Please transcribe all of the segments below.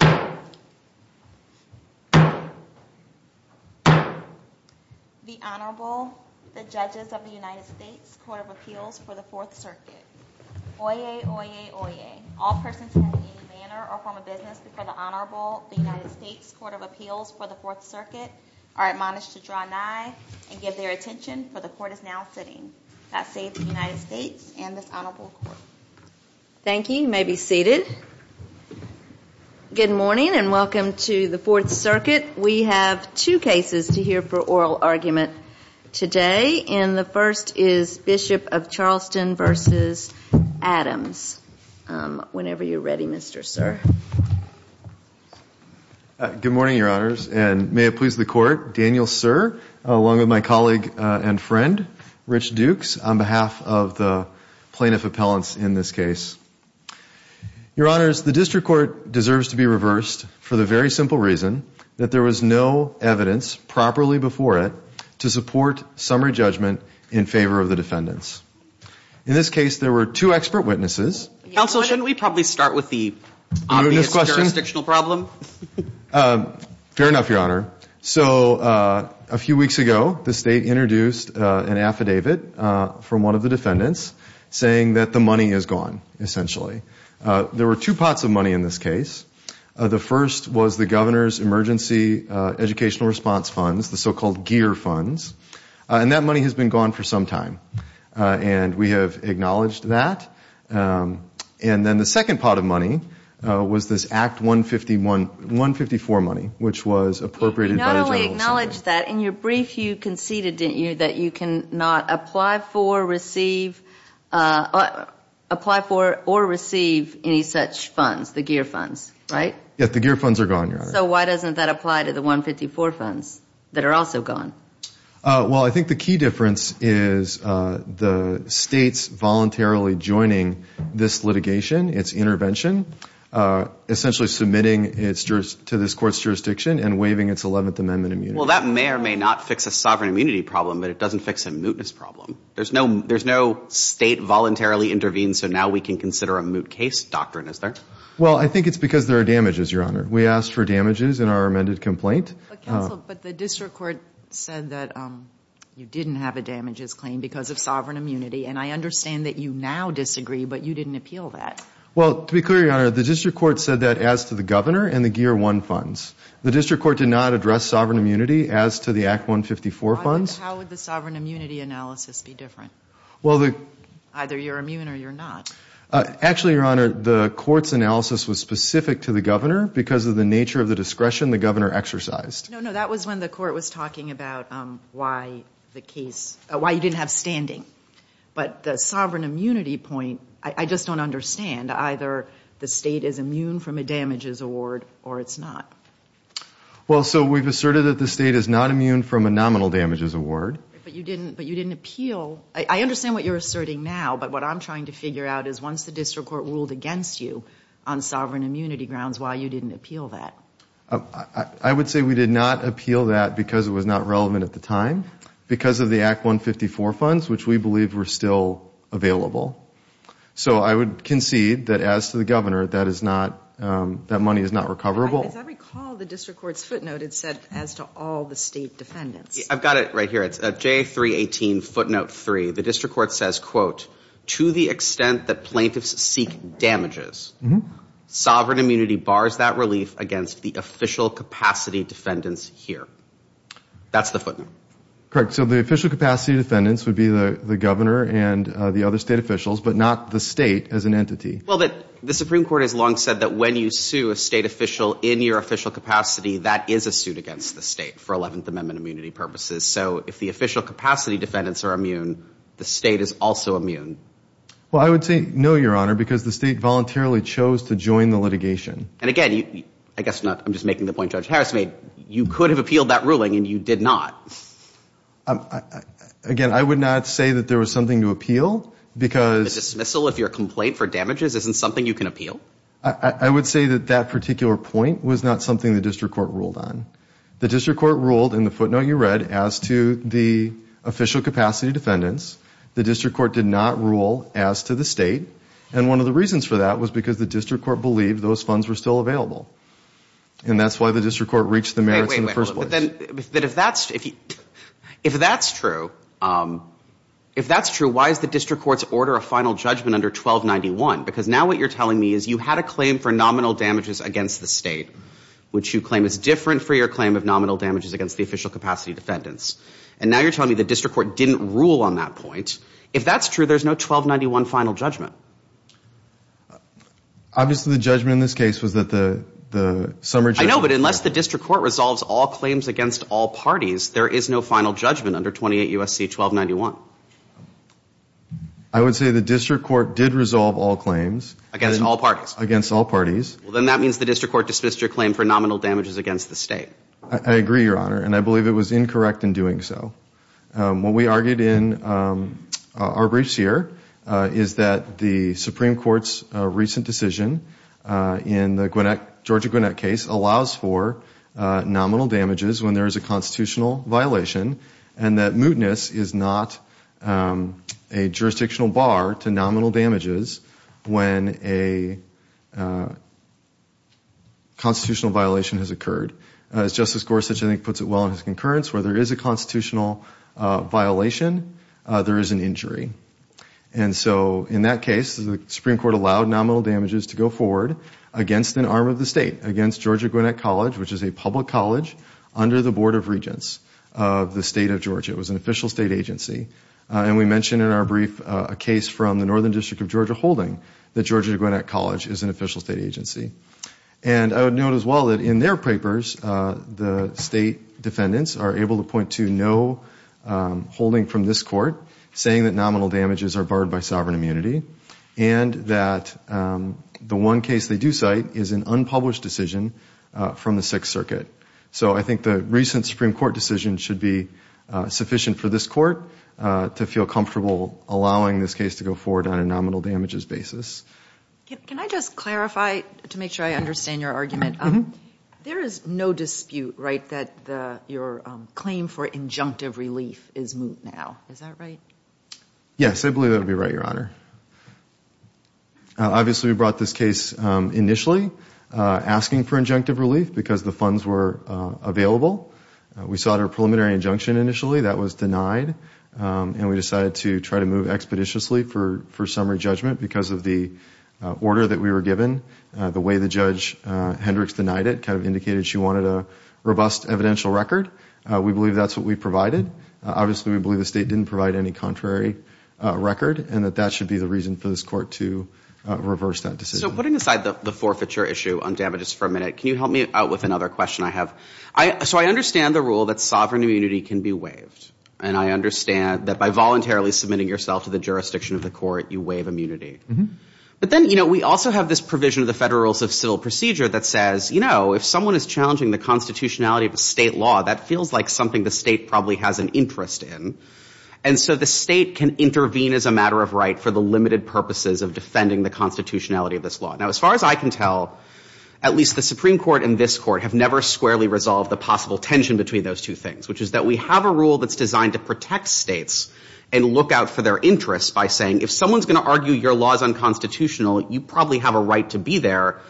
The Honorable, the Judges of the United States Court of Appeals for the Fourth Circuit. Oyez, oyez, oyez. All persons in any manner or form of business before the Honorable, the United States Court of Appeals for the Fourth Circuit are admonished to draw nigh and give their attention, for the Court is now sitting. That saves the United States and this Honorable Court. Thank you. You may be seated. Good morning and welcome to the Fourth Circuit. We have two cases to hear for oral argument today, and the first is Bishop of Charleston v. Adams. Whenever you're ready, Mr. Sir. Good morning, Your Honors, and may it please the Court, Daniel Sir, along with my colleague and friend, Rich Dukes, on behalf of the plaintiff appellants in this case. Your Honors, the district court deserves to be reversed for the very simple reason that there was no evidence properly before it to support summary judgment in favor of the defendants. In this case, there were two expert witnesses. Counsel, shouldn't we probably start with the obvious jurisdictional problem? Fair enough, Your Honor. So a few weeks ago, the state introduced an affidavit from one of the defendants saying that the money is gone, essentially. There were two pots of money in this case. The first was the governor's emergency educational response funds, the so-called GEER funds, and that money has been gone for some time, and we have acknowledged that. And then the second pot of money was this Act 154 money, which was appropriated by the general assembly. You not only acknowledged that. In your brief, you conceded, didn't you, that you cannot apply for or receive any such funds, the GEER funds, right? Yes, the GEER funds are gone, Your Honor. So why doesn't that apply to the 154 funds that are also gone? Well, I think the key difference is the states voluntarily joining this litigation, its intervention, essentially submitting to this court's jurisdiction and waiving its Eleventh Amendment immunity. Well, that may or may not fix a sovereign immunity problem, but it doesn't fix a mootness problem. There's no state voluntarily intervenes, so now we can consider a moot case doctrine, is there? Well, I think it's because there are damages, Your Honor. We asked for damages in our amended complaint. Counsel, but the district court said that you didn't have a damages claim because of sovereign immunity, and I understand that you now disagree, but you didn't appeal that. Well, to be clear, Your Honor, the district court said that as to the governor and the GEER 1 funds. The district court did not address sovereign immunity as to the Act 154 funds. How would the sovereign immunity analysis be different? Either you're immune or you're not. Actually, Your Honor, the court's analysis was specific to the governor. Because of the nature of the discretion, the governor exercised. No, no, that was when the court was talking about why the case, why you didn't have standing. But the sovereign immunity point, I just don't understand. Either the state is immune from a damages award or it's not. Well, so we've asserted that the state is not immune from a nominal damages award. But you didn't appeal. I understand what you're asserting now, but what I'm trying to figure out is once the district court ruled against you on sovereign immunity grounds, why you didn't appeal that. I would say we did not appeal that because it was not relevant at the time because of the Act 154 funds, which we believe were still available. So I would concede that as to the governor, that money is not recoverable. As I recall, the district court's footnote, it said as to all the state defendants. I've got it right here. It's J318 footnote 3. The district court says, quote, to the extent that plaintiffs seek damages, sovereign immunity bars that relief against the official capacity defendants here. That's the footnote. Correct. So the official capacity defendants would be the governor and the other state officials, but not the state as an entity. Well, the Supreme Court has long said that when you sue a state official in your official capacity, that is a suit against the state for 11th Amendment immunity purposes. So if the official capacity defendants are immune, the state is also immune. Well, I would say no, Your Honor, because the state voluntarily chose to join the litigation. And again, I guess I'm just making the point Judge Harris made. You could have appealed that ruling and you did not. Again, I would not say that there was something to appeal because. A dismissal if you're a complaint for damages isn't something you can appeal? I would say that that particular point was not something the district court ruled on. The district court ruled in the footnote you read as to the official capacity defendants. The district court did not rule as to the state. And one of the reasons for that was because the district court believed those funds were still available. And that's why the district court reached the merits in the first place. But if that's true, if that's true, why is the district court's order a final judgment under 1291? Because now what you're telling me is you had a claim for nominal damages against the state, which you claim is different for your claim of nominal damages against the official capacity defendants. And now you're telling me the district court didn't rule on that point. If that's true, there's no 1291 final judgment. Obviously, the judgment in this case was that the summary. I know, but unless the district court resolves all claims against all parties, there is no final judgment under 28 U.S.C. 1291. I would say the district court did resolve all claims. Against all parties. Against all parties. Then that means the district court dismissed your claim for nominal damages against the state. I agree, Your Honor, and I believe it was incorrect in doing so. What we argued in our briefs here is that the Supreme Court's recent decision in the Georgia Gwinnett case allows for nominal damages when there is a constitutional violation and that mootness is not a jurisdictional bar to nominal damages when a constitutional violation has occurred. As Justice Gorsuch, I think, puts it well in his concurrence, where there is a constitutional violation, there is an injury. And so in that case, the Supreme Court allowed nominal damages to go forward against an arm of the state, against Georgia Gwinnett College, which is a public college under the Board of Regents. Of the state of Georgia. It was an official state agency. And we mentioned in our brief a case from the Northern District of Georgia holding that Georgia Gwinnett College is an official state agency. And I would note as well that in their papers, the state defendants are able to point to no holding from this court saying that nominal damages are barred by sovereign immunity and that the one case they do cite is an unpublished decision from the Sixth Circuit. So I think the recent Supreme Court decision should be sufficient for this court to feel comfortable allowing this case to go forward on a nominal damages basis. Can I just clarify to make sure I understand your argument? There is no dispute, right, that your claim for injunctive relief is moot now. Is that right? Yes, I believe that would be right, Your Honor. Obviously, we brought this case initially asking for injunctive relief because the funds were available. We sought a preliminary injunction initially that was denied. And we decided to try to move expeditiously for summary judgment because of the order that we were given. The way that Judge Hendricks denied it kind of indicated she wanted a robust evidential record. We believe that's what we provided. Obviously, we believe the state didn't provide any contrary record and that that should be the reason for this court to reverse that decision. So putting aside the forfeiture issue on damages for a minute, can you help me out with another question I have? So I understand the rule that sovereign immunity can be waived. And I understand that by voluntarily submitting yourself to the jurisdiction of the court, you waive immunity. But then, you know, we also have this provision of the Federal Rules of Civil Procedure that says, you know, if someone is challenging the constitutionality of a state law, that feels like something the state probably has an interest in. And so the state can intervene as a matter of right for the limited purposes of defending the constitutionality of this law. Now, as far as I can tell, at least the Supreme Court and this court have never squarely resolved the possible tension between those two things, which is that we have a rule that's designed to protect states and look out for their interests by saying, if someone's going to argue your law is unconstitutional, you probably have a right to be there,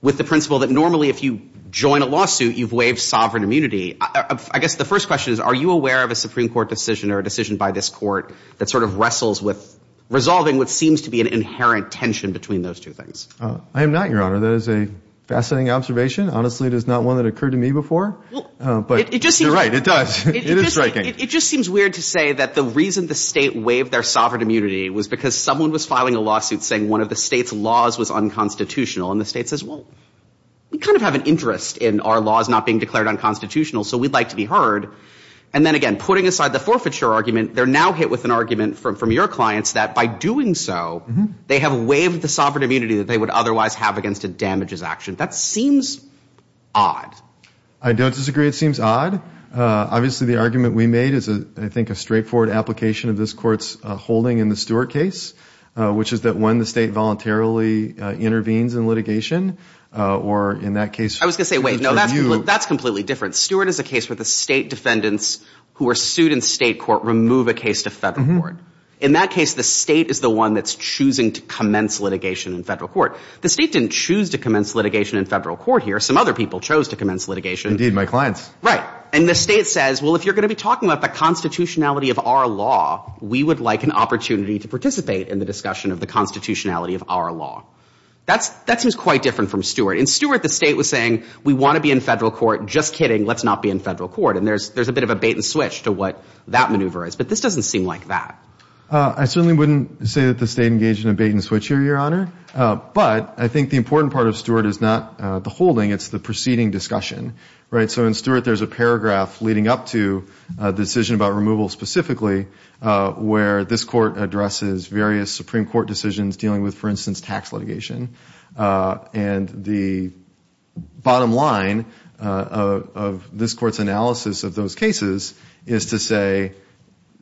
with the principle that normally if you join a lawsuit, you've waived sovereign immunity. I guess the first question is, are you aware of a Supreme Court decision or a decision by this court that sort of wrestles with resolving what seems to be an inherent tension between those two things? I am not, Your Honor. That is a fascinating observation. Honestly, it is not one that occurred to me before. But you're right, it does. It is striking. It just seems weird to say that the reason the state waived their sovereign immunity was because someone was filing a lawsuit saying one of the state's laws was unconstitutional. And the state says, well, we kind of have an interest in our laws not being declared unconstitutional, so we'd like to be heard. And then again, putting aside the forfeiture argument, they're now hit with an argument from your clients that by doing so, they have waived the sovereign immunity that they would otherwise have against a damages action. That seems odd. I don't disagree. It seems odd. Obviously, the argument we made is, I think, a straightforward application of this court's holding in the Stewart case, which is that when the state voluntarily intervenes in litigation, or in that case, I was going to say, wait, no, that's completely different. Stewart is a case where the state defendants who are sued in state court remove a case to federal court. In that case, the state is the one that's choosing to commence litigation in federal court. The state didn't choose to commence litigation in federal court here. Some other people chose to commence litigation. Indeed, my clients. Right. And the state says, well, if you're going to be talking about the constitutionality of our law, we would like an opportunity to participate in the discussion of the constitutionality of our law. That seems quite different from Stewart. In Stewart, the state was saying, we want to be in federal court. Just kidding. Let's not be in federal court. And there's a bit of a bait and switch to what that maneuver is. But this doesn't seem like that. I certainly wouldn't say that the state engaged in a bait and switch here, Your Honor. But I think the important part of Stewart is not the holding. It's the preceding discussion. Right. So in Stewart, there's a paragraph leading up to a decision about removal specifically, where this court addresses various Supreme Court decisions dealing with, for instance, tax litigation. And the bottom line of this court's analysis of those cases is to say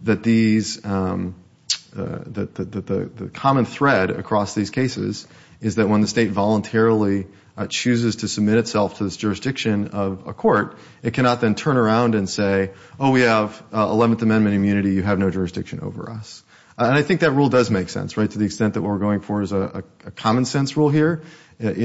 that these the common thread across these cases is that when the state voluntarily chooses to submit itself to this jurisdiction of a court, it cannot then turn around and say, oh, we have 11th Amendment immunity. You have no jurisdiction over us. And I think that rule does make sense, right, to the extent that what we're going for is a common sense rule here.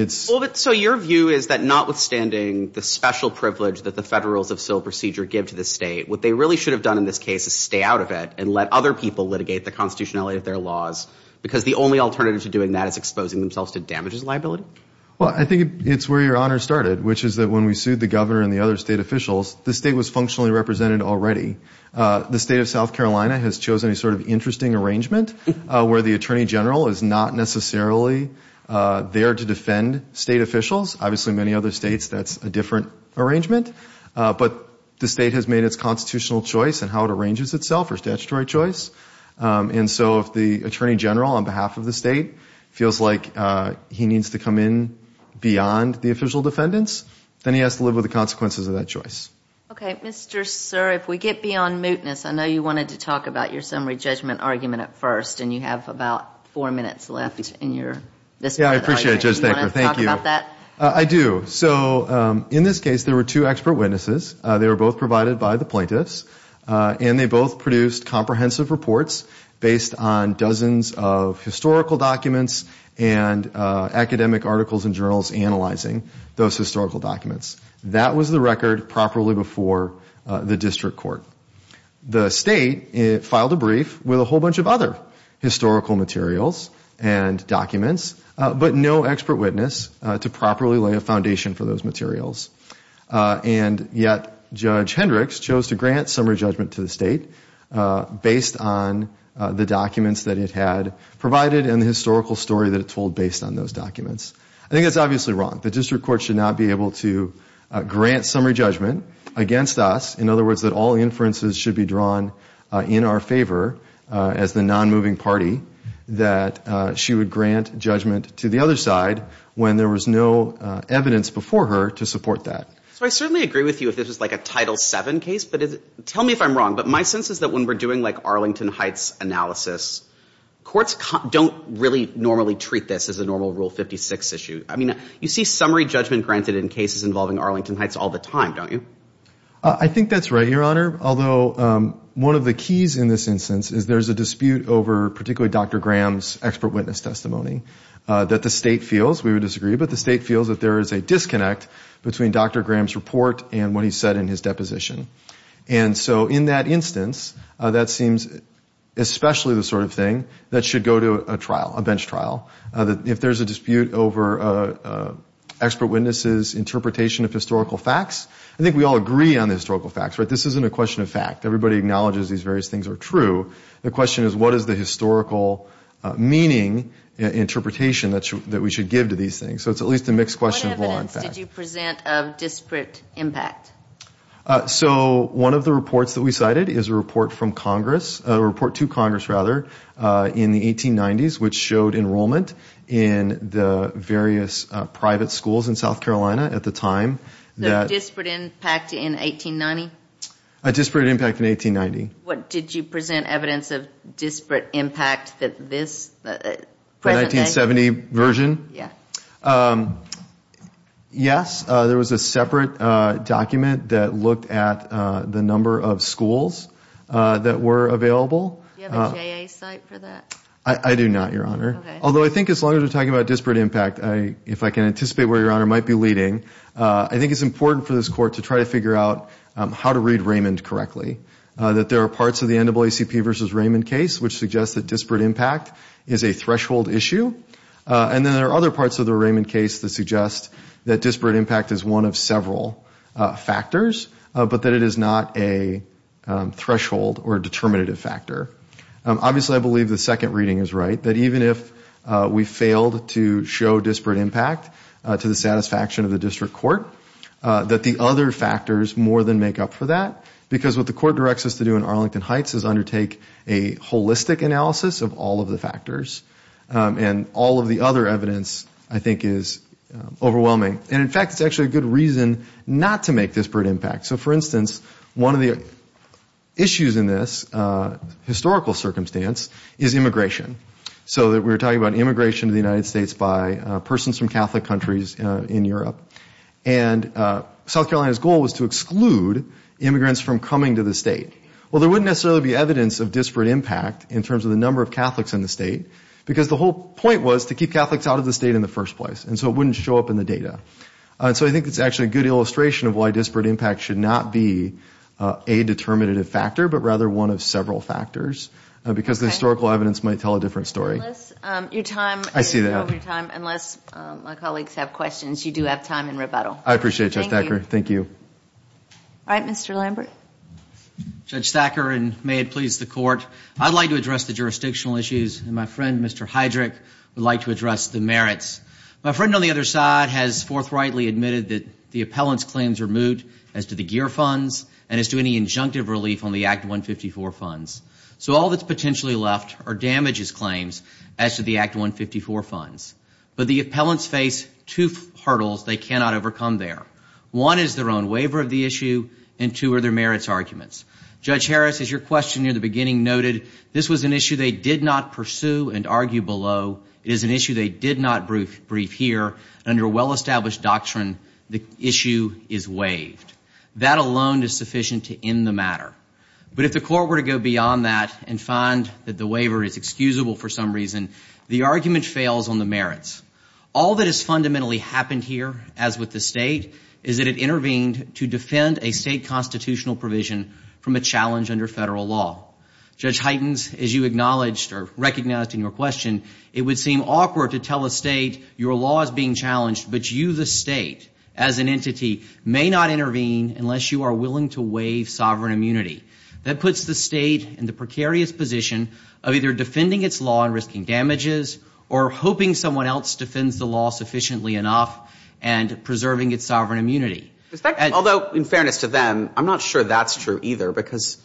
So your view is that notwithstanding the special privilege that the Federals of Civil Procedure give to the state, what they really should have done in this case is stay out of it and let other people litigate the constitutionality of their laws because the only alternative to doing that is exposing themselves to damages liability? Well, I think it's where your honor started, which is that when we sued the governor and the other state officials, the state was functionally represented already. The state of South Carolina has chosen a sort of interesting arrangement where the attorney general is not necessarily there to defend state officials. Obviously, in many other states, that's a different arrangement. But the state has made its constitutional choice in how it arranges itself or statutory choice. And so if the attorney general on behalf of the state feels like he needs to come in beyond the official defendants, then he has to live with the consequences of that choice. Okay. Mr. Sir, if we get beyond mootness, I know you wanted to talk about your summary judgment argument at first, and you have about four minutes left in your this part of the argument. Yeah, I appreciate it, Judge Thacker. Do you want to talk about that? I do. So in this case, there were two expert witnesses. They were both provided by the plaintiffs. And they both produced comprehensive reports based on dozens of historical documents and academic articles and journals analyzing those historical documents. That was the record properly before the district court. The state filed a brief with a whole bunch of other historical materials and documents, but no expert witness to properly lay a foundation for those materials. And yet Judge Hendricks chose to grant summary judgment to the state based on the documents that it had provided and the historical story that it told based on those documents. I think that's obviously wrong. The district court should not be able to grant summary judgment against us, in other words, that all inferences should be drawn in our favor as the nonmoving party, that she would grant judgment to the other side when there was no evidence before her to support that. So I certainly agree with you if this was like a Title VII case. But tell me if I'm wrong. But my sense is that when we're doing like Arlington Heights analysis, courts don't really normally treat this as a normal Rule 56 issue. I mean, you see summary judgment granted in cases involving Arlington Heights all the time, don't you? I think that's right, Your Honor. Although one of the keys in this instance is there's a dispute over particularly Dr. Graham's expert witness testimony that the state feels, we would disagree, but the state feels that there is a disconnect between Dr. Graham's report and what he said in his deposition. And so in that instance, that seems especially the sort of thing that should go to a trial, a bench trial. If there's a dispute over expert witnesses' interpretation of historical facts, I think we all agree on the historical facts, right? It's a question of fact. Everybody acknowledges these various things are true. The question is what is the historical meaning interpretation that we should give to these things? So it's at least a mixed question of law and fact. What evidence did you present of disparate impact? So one of the reports that we cited is a report from Congress, a report to Congress rather, in the 1890s, which showed enrollment in the various private schools in South Carolina at the time. So a disparate impact in 1890? A disparate impact in 1890. Did you present evidence of disparate impact this present day? The 1970 version? Yeah. Yes. There was a separate document that looked at the number of schools that were available. Do you have a J.A. site for that? I do not, Your Honor. Okay. Although I think as long as we're talking about disparate impact, if I can anticipate where Your Honor might be leading, I think it's important for this Court to try to figure out how to read Raymond correctly, that there are parts of the NAACP versus Raymond case which suggests that disparate impact is a threshold issue, and then there are other parts of the Raymond case that suggest that disparate impact is one of several factors, but that it is not a threshold or a determinative factor. Obviously, I believe the second reading is right, that even if we failed to show disparate impact to the satisfaction of the District Court, that the other factors more than make up for that, because what the Court directs us to do in Arlington Heights is undertake a holistic analysis of all of the factors, and all of the other evidence I think is overwhelming. And in fact, it's actually a good reason not to make disparate impact. So for instance, one of the issues in this historical circumstance is immigration. So we were talking about immigration to the United States by persons from Catholic countries in Europe, and South Carolina's goal was to exclude immigrants from coming to the state. Well, there wouldn't necessarily be evidence of disparate impact in terms of the number of Catholics in the state, because the whole point was to keep Catholics out of the state in the first place, and so it wouldn't show up in the data. So I think it's actually a good illustration of why disparate impact should not be a determinative factor, but rather one of several factors, because the historical evidence might tell a different story. Unless your time is over. I see that. Unless my colleagues have questions, you do have time in rebuttal. I appreciate it, Judge Thacker. Thank you. Thank you. All right, Mr. Lambert. Judge Thacker, and may it please the Court, I'd like to address the jurisdictional issues, and my friend, Mr. Heydrich, would like to address the merits. My friend on the other side has forthrightly admitted that the appellant's claims are moot as to the GEER funds and as to any injunctive relief on the Act 154 funds. So all that's potentially left are damages claims as to the Act 154 funds. But the appellants face two hurdles they cannot overcome there. One is their own waiver of the issue, and two are their merits arguments. Judge Harris, as your question near the beginning noted, this was an issue they did not pursue and argue below. It is an issue they did not brief here. Under well-established doctrine, the issue is waived. That alone is sufficient to end the matter. But if the Court were to go beyond that and find that the waiver is excusable for some reason, the argument fails on the merits. All that has fundamentally happened here, as with the State, is that it intervened to defend a State constitutional provision from a challenge under federal law. Judge Heitens, as you acknowledged or recognized in your question, it would seem awkward to tell a State your law is being challenged, but you, the State, as an entity, may not intervene unless you are willing to waive sovereign immunity. That puts the State in the precarious position of either defending its law and risking damages or hoping someone else defends the law sufficiently enough and preserving its sovereign immunity. Although, in fairness to them, I'm not sure that's true either because,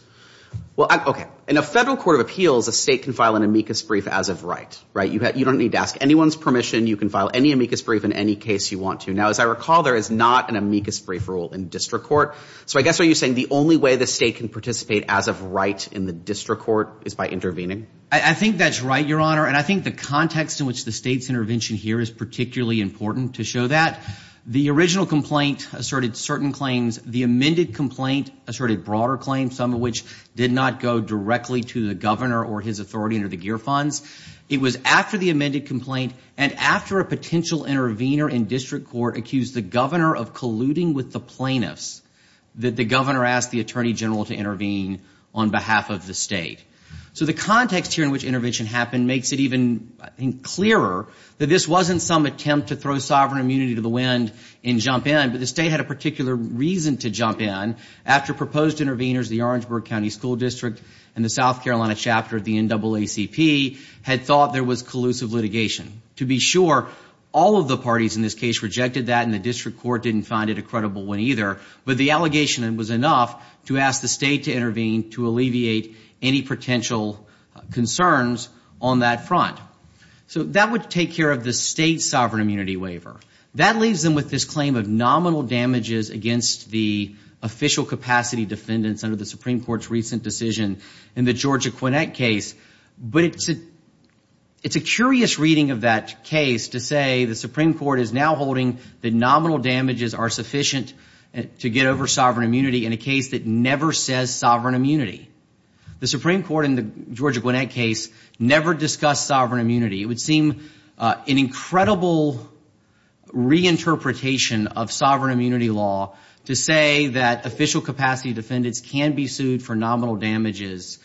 well, okay. In a federal court of appeals, a State can file an amicus brief as of right, right? You don't need to ask anyone's permission. You can file any amicus brief in any case you want to. Now, as I recall, there is not an amicus brief rule in district court. So I guess what you're saying, the only way the State can participate as of right in the district court is by intervening? I think that's right, Your Honor, and I think the context in which the State's intervention here is particularly important to show that. The original complaint asserted certain claims. The amended complaint asserted broader claims, some of which did not go directly to the governor or his authority under the GEER funds. It was after the amended complaint and after a potential intervener in district court accused the governor of colluding with the plaintiffs that the governor asked the attorney general to intervene on behalf of the State. So the context here in which intervention happened makes it even clearer that this wasn't some attempt to throw sovereign immunity to the wind and jump in, but the State had a particular reason to jump in after proposed interveners, the Orangeburg County School District and the South Carolina chapter of the NAACP, had thought there was collusive litigation. To be sure, all of the parties in this case rejected that, and the district court didn't find it a credible one either, but the allegation was enough to ask the State to intervene to alleviate any potential concerns on that front. So that would take care of the State sovereign immunity waiver. That leaves them with this claim of nominal damages against the official capacity defendants under the Supreme Court's recent decision in the Georgia-Gwinnett case, but it's a curious reading of that case to say the Supreme Court is now holding that nominal damages are sufficient to get over sovereign immunity in a case that never says sovereign immunity. The Supreme Court in the Georgia-Gwinnett case never discussed sovereign immunity. It would seem an incredible reinterpretation of sovereign immunity law to say that official capacity defendants can be sued for nominal damages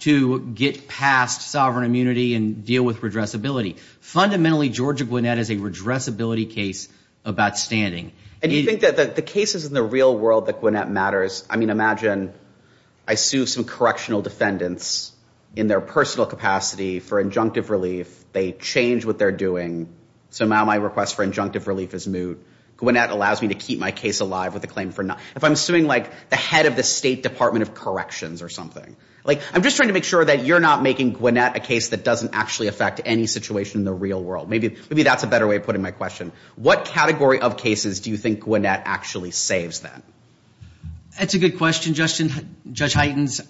to get past sovereign immunity and deal with redressability. Fundamentally, Georgia-Gwinnett is a redressability case of outstanding. And you think that the cases in the real world that Gwinnett matters, I mean, imagine I sue some correctional defendants in their personal capacity for injunctive relief. They change what they're doing, so now my request for injunctive relief is moot. Gwinnett allows me to keep my case alive with a claim for not. If I'm suing, like, the head of the State Department of Corrections or something, like, I'm just trying to make sure that you're not making Gwinnett a case that doesn't actually affect any situation in the real world. Maybe that's a better way of putting my question. What category of cases do you think Gwinnett actually saves, then? That's a good question, Judge Heitens.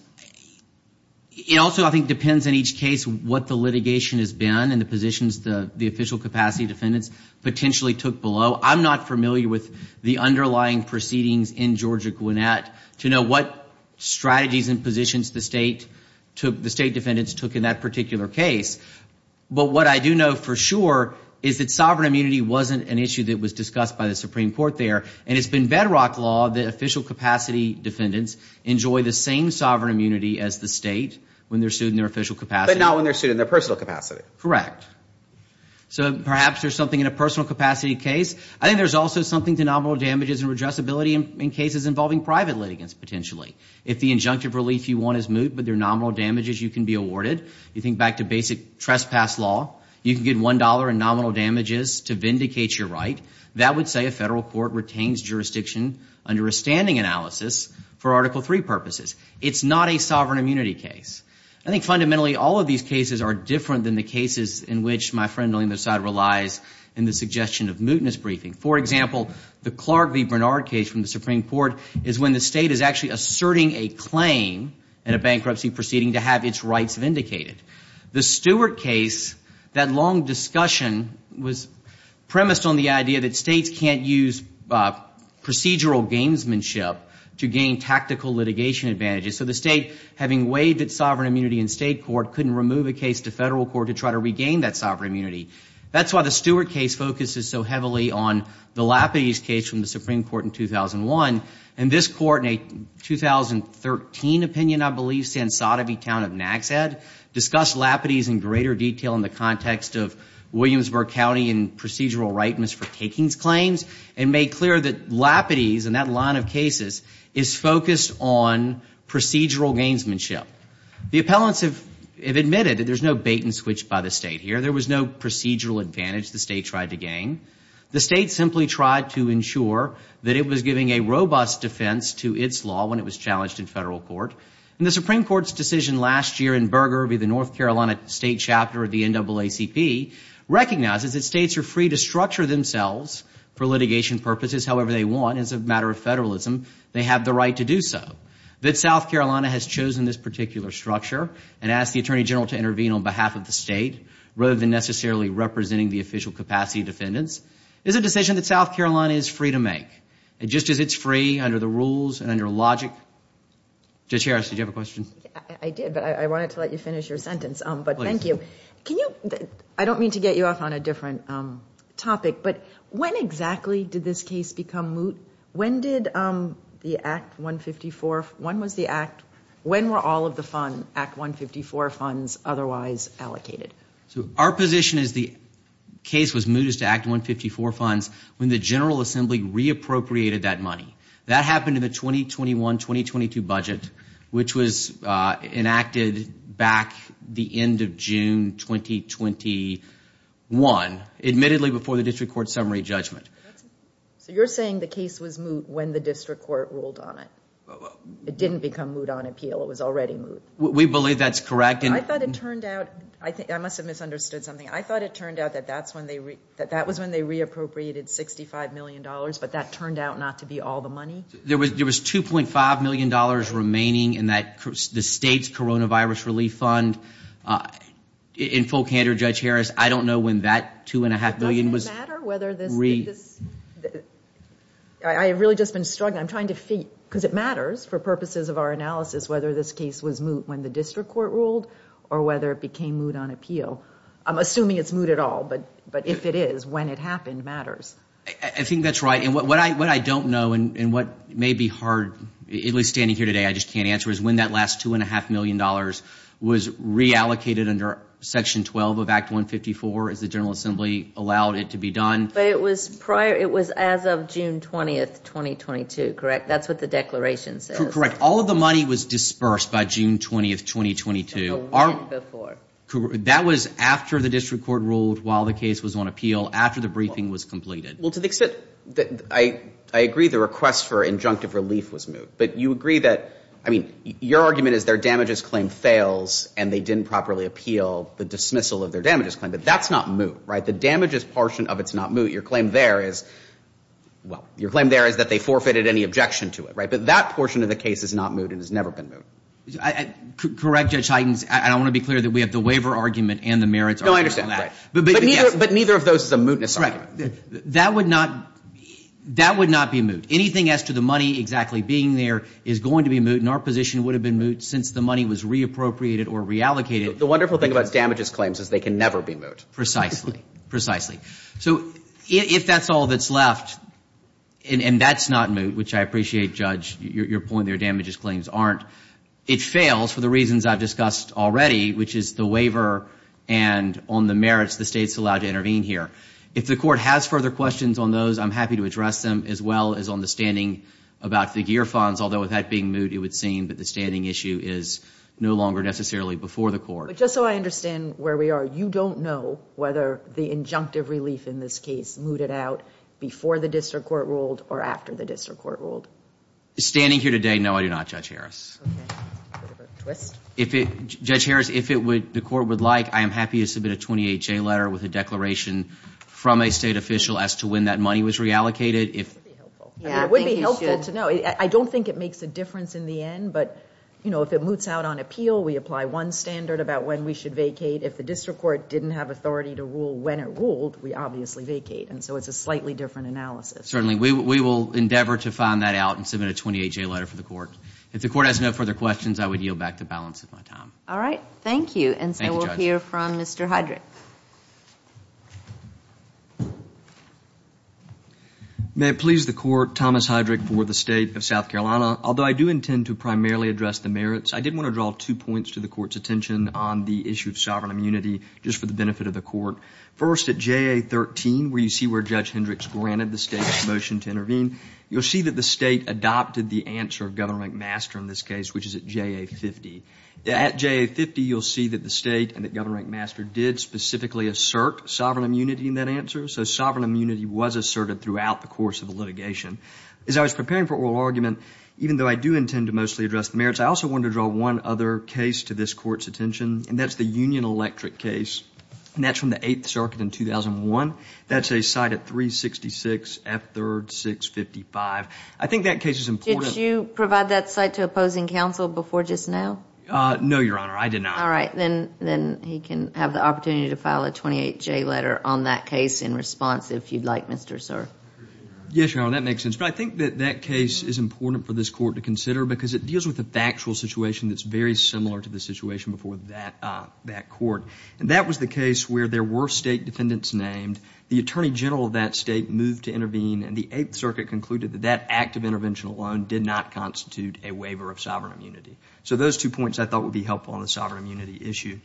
It also, I think, depends on each case what the litigation has been and the positions the official capacity defendants potentially took below. I'm not familiar with the underlying proceedings in Georgia-Gwinnett to know what strategies and positions the State defendants took in that particular case. But what I do know for sure is that sovereign immunity wasn't an issue that was discussed by the Supreme Court there. And it's been bedrock law that official capacity defendants enjoy the same sovereign immunity as the State when they're sued in their official capacity. But not when they're sued in their personal capacity. Correct. So perhaps there's something in a personal capacity case. I think there's also something to nominal damages and redressability in cases involving private litigants, potentially. If the injunctive relief you want is moot but there are nominal damages you can be awarded, you think back to basic trespass law, you can get $1 in nominal damages to vindicate your right. That would say a federal court retains jurisdiction under a standing analysis for Article III purposes. It's not a sovereign immunity case. I think fundamentally all of these cases are different than the cases in which my friend on the other side relies in the suggestion of mootness briefing. For example, the Clark v. Bernard case from the Supreme Court is when the State is actually asserting a claim in a bankruptcy proceeding to have its rights vindicated. The Stewart case, that long discussion was premised on the idea that States can't use procedural gamesmanship to gain tactical litigation advantages. So the State, having waived its sovereign immunity in State court, couldn't remove a case to federal court to try to regain that sovereign immunity. That's why the Stewart case focuses so heavily on the Lapidus case from the Supreme Court in 2001. And this court in a 2013 opinion, I believe, in Sotheby Town of Naxhead, discussed Lapidus in greater detail in the context of Williamsburg County and procedural rightness for takings claims and made clear that Lapidus, in that line of cases, is focused on procedural gamesmanship. The appellants have admitted that there's no bait and switch by the State here. There was no procedural advantage the State tried to gain. The State simply tried to ensure that it was giving a robust defense to its law when it was challenged in federal court. And the Supreme Court's decision last year in Burger v. the North Carolina State Chapter of the NAACP recognizes that States are free to structure themselves for litigation purposes however they want. As a matter of federalism, they have the right to do so. That South Carolina has chosen this particular structure and asked the Attorney General to intervene on behalf of the State rather than necessarily representing the official capacity of defendants. It's a decision that South Carolina is free to make. Just as it's free under the rules and under logic. Judge Harris, did you have a question? I did, but I wanted to let you finish your sentence, but thank you. I don't mean to get you off on a different topic, but when exactly did this case become moot? When did the Act 154, when was the Act, when were all of the Act 154 funds otherwise allocated? Our position is the case was mootest to Act 154 funds when the General Assembly reappropriated that money. That happened in the 2021-2022 budget, which was enacted back the end of June 2021, admittedly before the District Court summary judgment. So you're saying the case was moot when the District Court ruled on it. It didn't become moot on appeal, it was already moot. We believe that's correct. I thought it turned out, I must have misunderstood something, I thought it turned out that that was when they reappropriated $65 million, but that turned out not to be all the money. There was $2.5 million remaining in the State's Coronavirus Relief Fund. In full candor, Judge Harris, I don't know when that $2.5 million was re... I've really just been struggling. I'm trying to figure, because it matters for purposes of our analysis whether this case was moot when the District Court ruled or whether it became moot on appeal. I'm assuming it's moot at all, but if it is, when it happened matters. I think that's right. And what I don't know and what may be hard, at least standing here today I just can't answer, is when that last $2.5 million was reallocated under Section 12 of Act 154 as the General Assembly allowed it to be done. But it was prior, it was as of June 20, 2022, correct? That's what the declaration says. Correct. All of the money was dispersed by June 20, 2022. A week before. That was after the District Court ruled while the case was on appeal, after the briefing was completed. Well, to the extent that I agree the request for injunctive relief was moot, but you agree that, I mean, your argument is their damages claim fails and they didn't properly appeal the dismissal of their damages claim, but that's not moot, right? The damages portion of it's not moot. Your claim there is, well, your claim there is that they forfeited any objection to it, right? But that portion of the case is not moot and has never been moot. Correct, Judge Huygens, and I want to be clear that we have the waiver argument and the merits argument on that. No, I understand, right. But neither of those is a mootness argument. Right. That would not be moot. Anything as to the money exactly being there is going to be moot and our position would have been moot since the money was reappropriated or reallocated. The wonderful thing about damages claims is they can never be moot. Precisely. Precisely. So if that's all that's left and that's not moot, which I appreciate, Judge, your point there, damages claims aren't, it fails for the reasons I've discussed already, which is the waiver and on the merits the state's allowed to intervene here. If the court has further questions on those, I'm happy to address them as well as on the standing about the GEAR funds, although with that being moot, it would seem that the standing issue is no longer necessarily before the court. But just so I understand where we are, you don't know whether the injunctive relief in this case mooted out before the district court ruled or after the district court ruled? Standing here today, no, I do not, Judge Harris. Okay. Bit of a twist. Judge Harris, if the court would like, I am happy to submit a 28-J letter with a declaration from a state official as to when that money was reallocated. It would be helpful to know. I don't think it makes a difference in the end, but if it moots out on appeal, we apply one standard about when we should vacate. If the district court didn't have authority to rule when it ruled, we obviously vacate. And so it's a slightly different analysis. Certainly. We will endeavor to find that out and submit a 28-J letter for the court. If the court has no further questions, I would yield back the balance of my time. All right. Thank you. Thank you, Judge. And so we'll hear from Mr. Heydrich. May it please the court, Thomas Heydrich for the State of South Carolina. Although I do intend to primarily address the merits, I did want to draw two points to the court's attention on the issue of sovereign immunity just for the benefit of the court. First, at JA-13, where you see where Judge Hendricks granted the state a motion to intervene, you'll see that the state adopted the answer of Governor McMaster in this case, which is at JA-50. At JA-50, you'll see that the state and that Governor McMaster did specifically assert sovereign immunity in that answer. So sovereign immunity was asserted throughout the course of the litigation. As I was preparing for oral argument, even though I do intend to mostly address the merits, I also wanted to draw one other case to this court's attention, and that's the Union Electric case. And that's from the Eighth Circuit in 2001. That's a site at 366 F. 3rd, 655. I think that case is important. Did you provide that site to opposing counsel before just now? No, Your Honor. I did not. All right. Then he can have the opportunity to file a 28-J letter on that case in response if you'd like, Mr. Sir. Yes, Your Honor. That makes sense. But I think that that case is important for this court to consider because it deals with a factual situation that's very similar to the situation before that court. And that was the case where there were state defendants named. The attorney general of that state moved to intervene, and the Eighth Circuit concluded that that act of intervention alone did not constitute a waiver of sovereign immunity. So those two points I thought would be helpful on the sovereign immunity issue.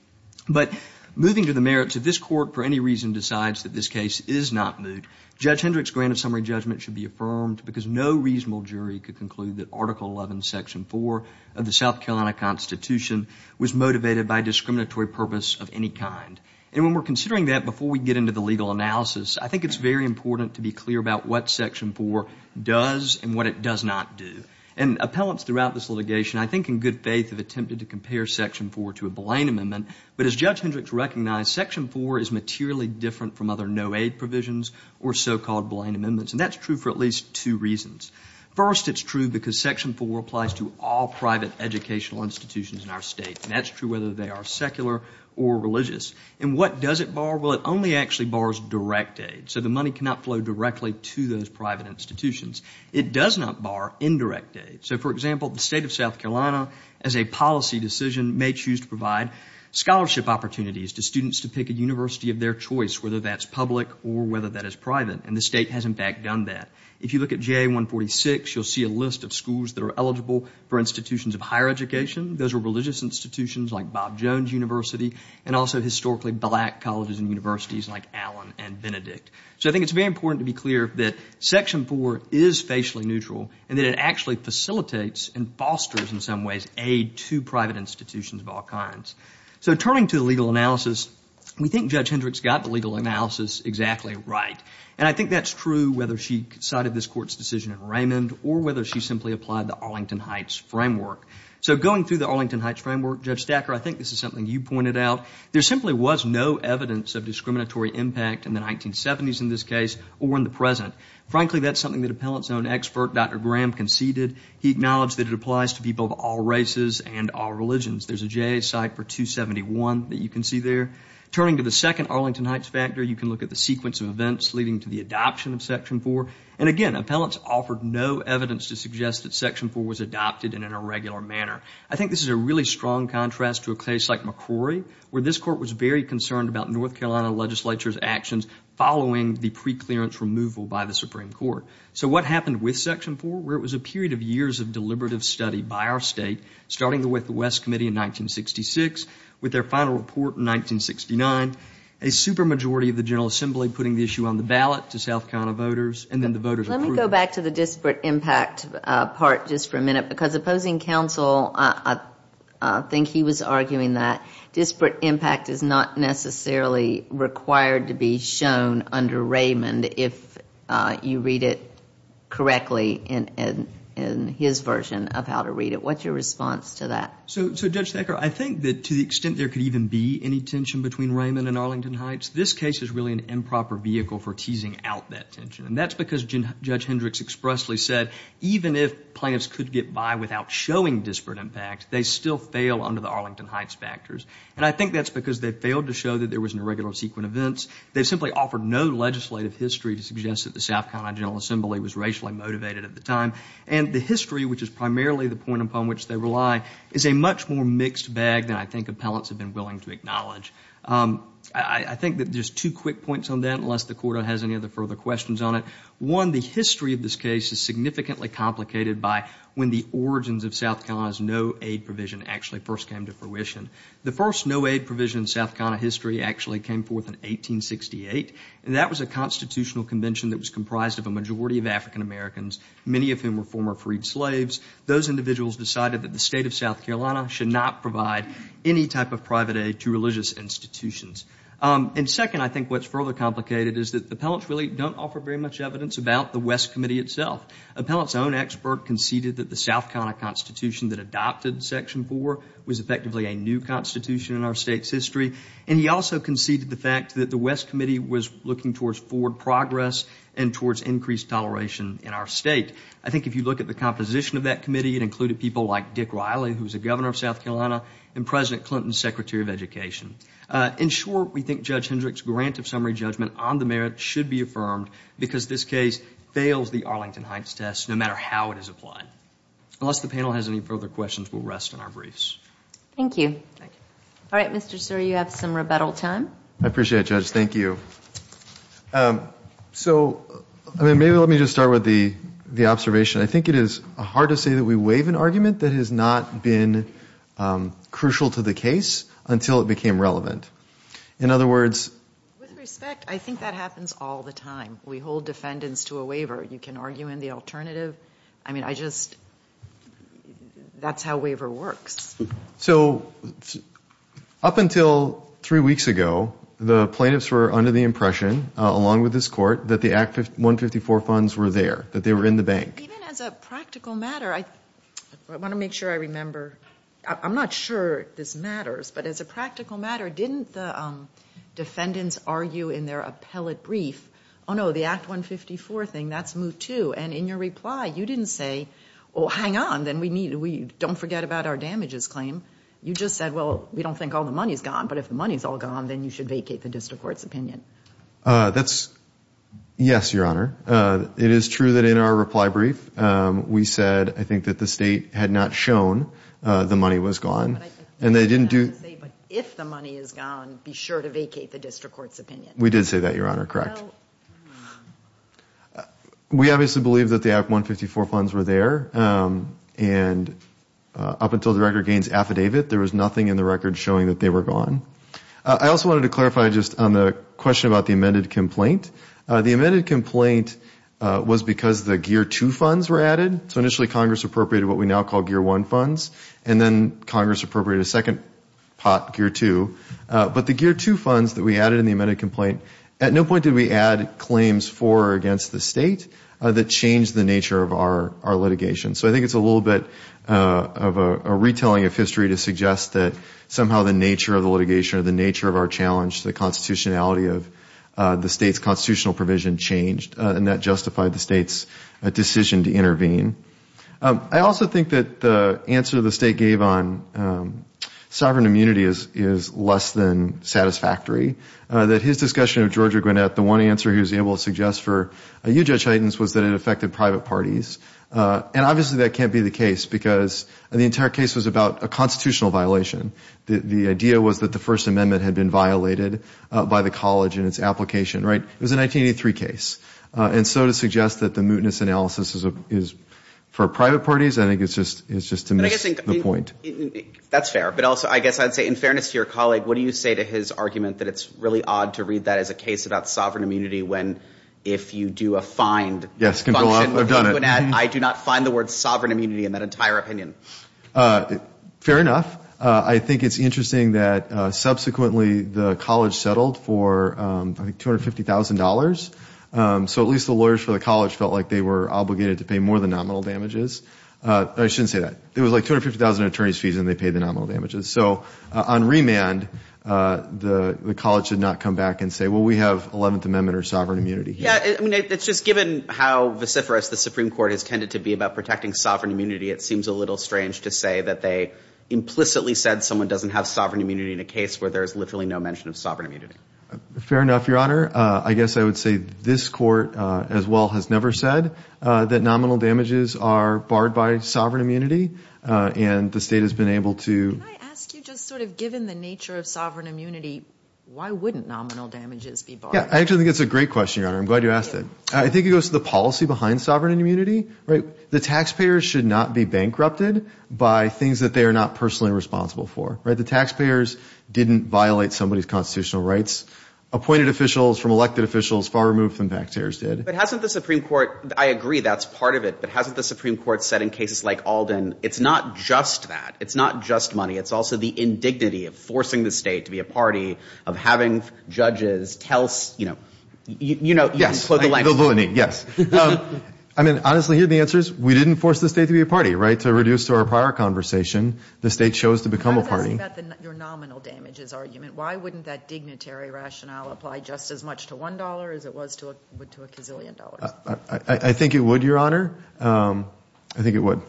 But moving to the merits, if this court for any reason decides that this case is not moved, Judge Hendricks' grant of summary judgment should be affirmed because no reasonable jury could conclude that Article 11, Section 4 of the South Carolina Constitution was motivated by a discriminatory purpose of any kind. And when we're considering that, before we get into the legal analysis, I think it's very important to be clear about what Section 4 does and what it does not do. And appellants throughout this litigation I think in good faith have attempted to compare Section 4 to a Blaine Amendment. But as Judge Hendricks recognized, Section 4 is materially different from other no-aid provisions or so-called Blaine Amendments. And that's true for at least two reasons. First, it's true because Section 4 applies to all private educational institutions in our state. And that's true whether they are secular or religious. And what does it bar? Well, it only actually bars direct aid. So the money cannot flow directly to those private institutions. It does not bar indirect aid. So, for example, the state of South Carolina, as a policy decision, may choose to provide scholarship opportunities to students to pick a university of their choice, whether that's public or whether that is private. And the state has in fact done that. If you look at JA 146, you'll see a list of schools that are eligible for institutions of higher education. Those are religious institutions like Bob Jones University and also historically black colleges and universities like Allen and Benedict. So I think it's very important to be clear that Section 4 is facially neutral and that it actually facilitates and fosters in some ways aid to private institutions of all kinds. So turning to the legal analysis, we think Judge Hendricks got the legal analysis exactly right. And I think that's true whether she cited this court's decision in Raymond or whether she simply applied the Arlington Heights Framework. So going through the Arlington Heights Framework, Judge Stacker, I think this is something you pointed out. There simply was no evidence of discriminatory impact in the 1970s in this case or in the present. Frankly, that's something that appellant's own expert, Dr. Graham, conceded. He acknowledged that it applies to people of all races and all religions. There's a JA site for 271 that you can see there. Turning to the second Arlington Heights factor, you can look at the sequence of events leading to the adoption of Section 4. And again, appellants offered no evidence to suggest that Section 4 was adopted in an irregular manner. I think this is a really strong contrast to a case like McCrory where this court was very concerned about North Carolina legislature's actions following the preclearance removal by the Supreme Court. So what happened with Section 4? Well, it was a period of years of deliberative study by our state, starting with the West Committee in 1966, with their final report in 1969, a supermajority of the General Assembly putting the issue on the ballot to South Carolina voters, and then the voters approved it. Let me go back to the disparate impact part just for a minute. Because opposing counsel, I think he was arguing that disparate impact is not necessarily required to be shown under Raymond if you read it correctly in his version of how to read it. What's your response to that? So, Judge Thacker, I think that to the extent there could even be any tension between Raymond and Arlington Heights, this case is really an improper vehicle for teasing out that tension. And that's because Judge Hendricks expressly said even if plaintiffs could get by without showing disparate impact, they still fail under the Arlington Heights factors. And I think that's because they failed to show that there was an irregular sequence of events. They simply offered no legislative history to suggest that the South Carolina General Assembly was racially motivated at the time. And the history, which is primarily the point upon which they rely, is a much more mixed bag than I think appellants have been willing to acknowledge. I think that there's two quick points on that, unless the Court has any other further questions on it. One, the history of this case is significantly complicated by when the origins of South Carolina's no-aid provision actually first came to fruition. The first no-aid provision in South Carolina history actually came forth in 1868, and that was a constitutional convention that was comprised of a majority of African Americans, many of whom were former freed slaves. Those individuals decided that the state of South Carolina should not provide any type of private aid to religious institutions. And second, I think what's further complicated is that appellants really don't offer very much evidence about the West Committee itself. Appellants' own expert conceded that the South Carolina Constitution that adopted Section 4 was effectively a new constitution in our state's history, and he also conceded the fact that the West Committee was looking towards forward progress and towards increased toleration in our state. I think if you look at the composition of that committee, it included people like Dick Riley, who was the governor of South Carolina, and President Clinton, Secretary of Education. In short, we think Judge Hendrick's grant of summary judgment on the merits should be affirmed because this case fails the Arlington Heights test, no matter how it is applied. Unless the panel has any further questions, we'll rest on our briefs. Thank you. All right, Mr. Suri, you have some rebuttal time. I appreciate it, Judge. Thank you. So maybe let me just start with the observation. I think it is hard to say that we waive an argument that has not been crucial to the case until it became relevant. In other words— With respect, I think that happens all the time. We hold defendants to a waiver. You can argue in the alternative. I mean, I just—that's how waiver works. So up until three weeks ago, the plaintiffs were under the impression, along with this court, that the Act 154 funds were there, that they were in the bank. Even as a practical matter, I want to make sure I remember—I'm not sure this matters, but as a practical matter, didn't the defendants argue in their appellate brief, oh, no, the Act 154 thing, that's move two, and in your reply, you didn't say, oh, hang on, then we don't forget about our damages claim. You just said, well, we don't think all the money is gone, but if the money is all gone, then you should vacate the district court's opinion. That's—yes, Your Honor. It is true that in our reply brief, we said, I think, that the State had not shown the money was gone, and they didn't do— But if the money is gone, be sure to vacate the district court's opinion. We did say that, Your Honor, correct. We obviously believe that the Act 154 funds were there, and up until the record gains affidavit, there was nothing in the record showing that they were gone. I also wanted to clarify just on the question about the amended complaint. The amended complaint was because the gear two funds were added, so initially Congress appropriated what we now call gear one funds, and then Congress appropriated a second pot, gear two, but the gear two funds that we added in the amended complaint, at no point did we add claims for or against the State that changed the nature of our litigation. So I think it's a little bit of a retelling of history to suggest that somehow the nature of the litigation or the nature of our challenge to the constitutionality of the State's constitutional provision changed, and that justified the State's decision to intervene. I also think that the answer the State gave on sovereign immunity is less than satisfactory, that his discussion of Georgia Gwinnett, the one answer he was able to suggest for you, Judge Heitens, was that it affected private parties, and obviously that can't be the case, because the entire case was about a constitutional violation. The idea was that the First Amendment had been violated by the college in its application, right? It was a 1983 case, and so to suggest that the mootness analysis is for private parties, I think it's just to miss the point. That's fair, but also I guess I'd say in fairness to your colleague, what do you say to his argument that it's really odd to read that as a case about sovereign immunity when if you do a find function with Gwinnett, I do not find the word sovereign immunity in that entire opinion? Fair enough. I think it's interesting that subsequently the college settled for $250,000, so at least the lawyers for the college felt like they were obligated to pay more than nominal damages. I shouldn't say that. It was like $250,000 in attorney's fees, and they paid the nominal damages. So on remand, the college did not come back and say, well, we have 11th Amendment or sovereign immunity. Yeah, I mean, it's just given how vociferous the Supreme Court has tended to be about protecting sovereign immunity, it seems a little strange to say that they implicitly said someone doesn't have sovereign immunity in a case where there's literally no mention of sovereign immunity. Fair enough, Your Honor. I guess I would say this court as well has never said that nominal damages are barred by sovereign immunity, and the state has been able to— Can I ask you, just sort of given the nature of sovereign immunity, why wouldn't nominal damages be barred? Yeah, I actually think it's a great question, Your Honor. I'm glad you asked it. I think it goes to the policy behind sovereign immunity, right? The taxpayers should not be bankrupted by things that they are not personally responsible for, right? The taxpayers didn't violate somebody's constitutional rights. Appointed officials from elected officials far removed from back tears did. But hasn't the Supreme Court—I agree, that's part of it—but hasn't the Supreme Court said in cases like Alden, it's not just that, it's not just money, it's also the indignity of forcing the state to be a party, of having judges tell, you know, you know— Yes. Yes. I mean, honestly, here are the answers. We didn't force the state to be a party, right? To reduce to our prior conversation, the state chose to become a party. I was asking about your nominal damages argument. Why wouldn't that dignitary rationale apply just as much to $1 as it was to a gazillion dollars? I think it would, Your Honor. I think it would.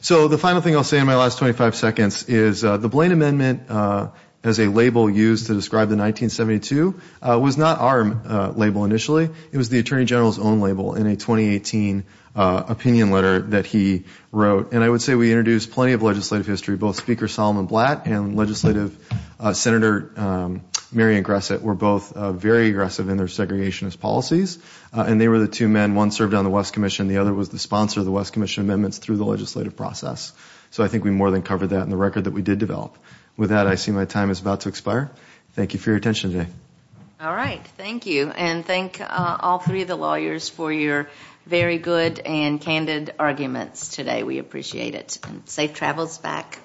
So the final thing I'll say in my last 25 seconds is the Blaine Amendment, as a label used to describe the 1972, was not our label initially. It was the Attorney General's own label in a 2018 opinion letter that he wrote. And I would say we introduced plenty of legislative history. Both Speaker Solomon Blatt and legislative Senator Marion Gresset were both very aggressive in their segregationist policies. And they were the two men—one served on the West Commission, the other was the sponsor of the West Commission amendments through the legislative process. So I think we more than covered that in the record that we did develop. With that, I see my time is about to expire. Thank you for your attention today. All right. Thank you. And thank all three of the lawyers for your very good and candid arguments today. We appreciate it. And safe travels back.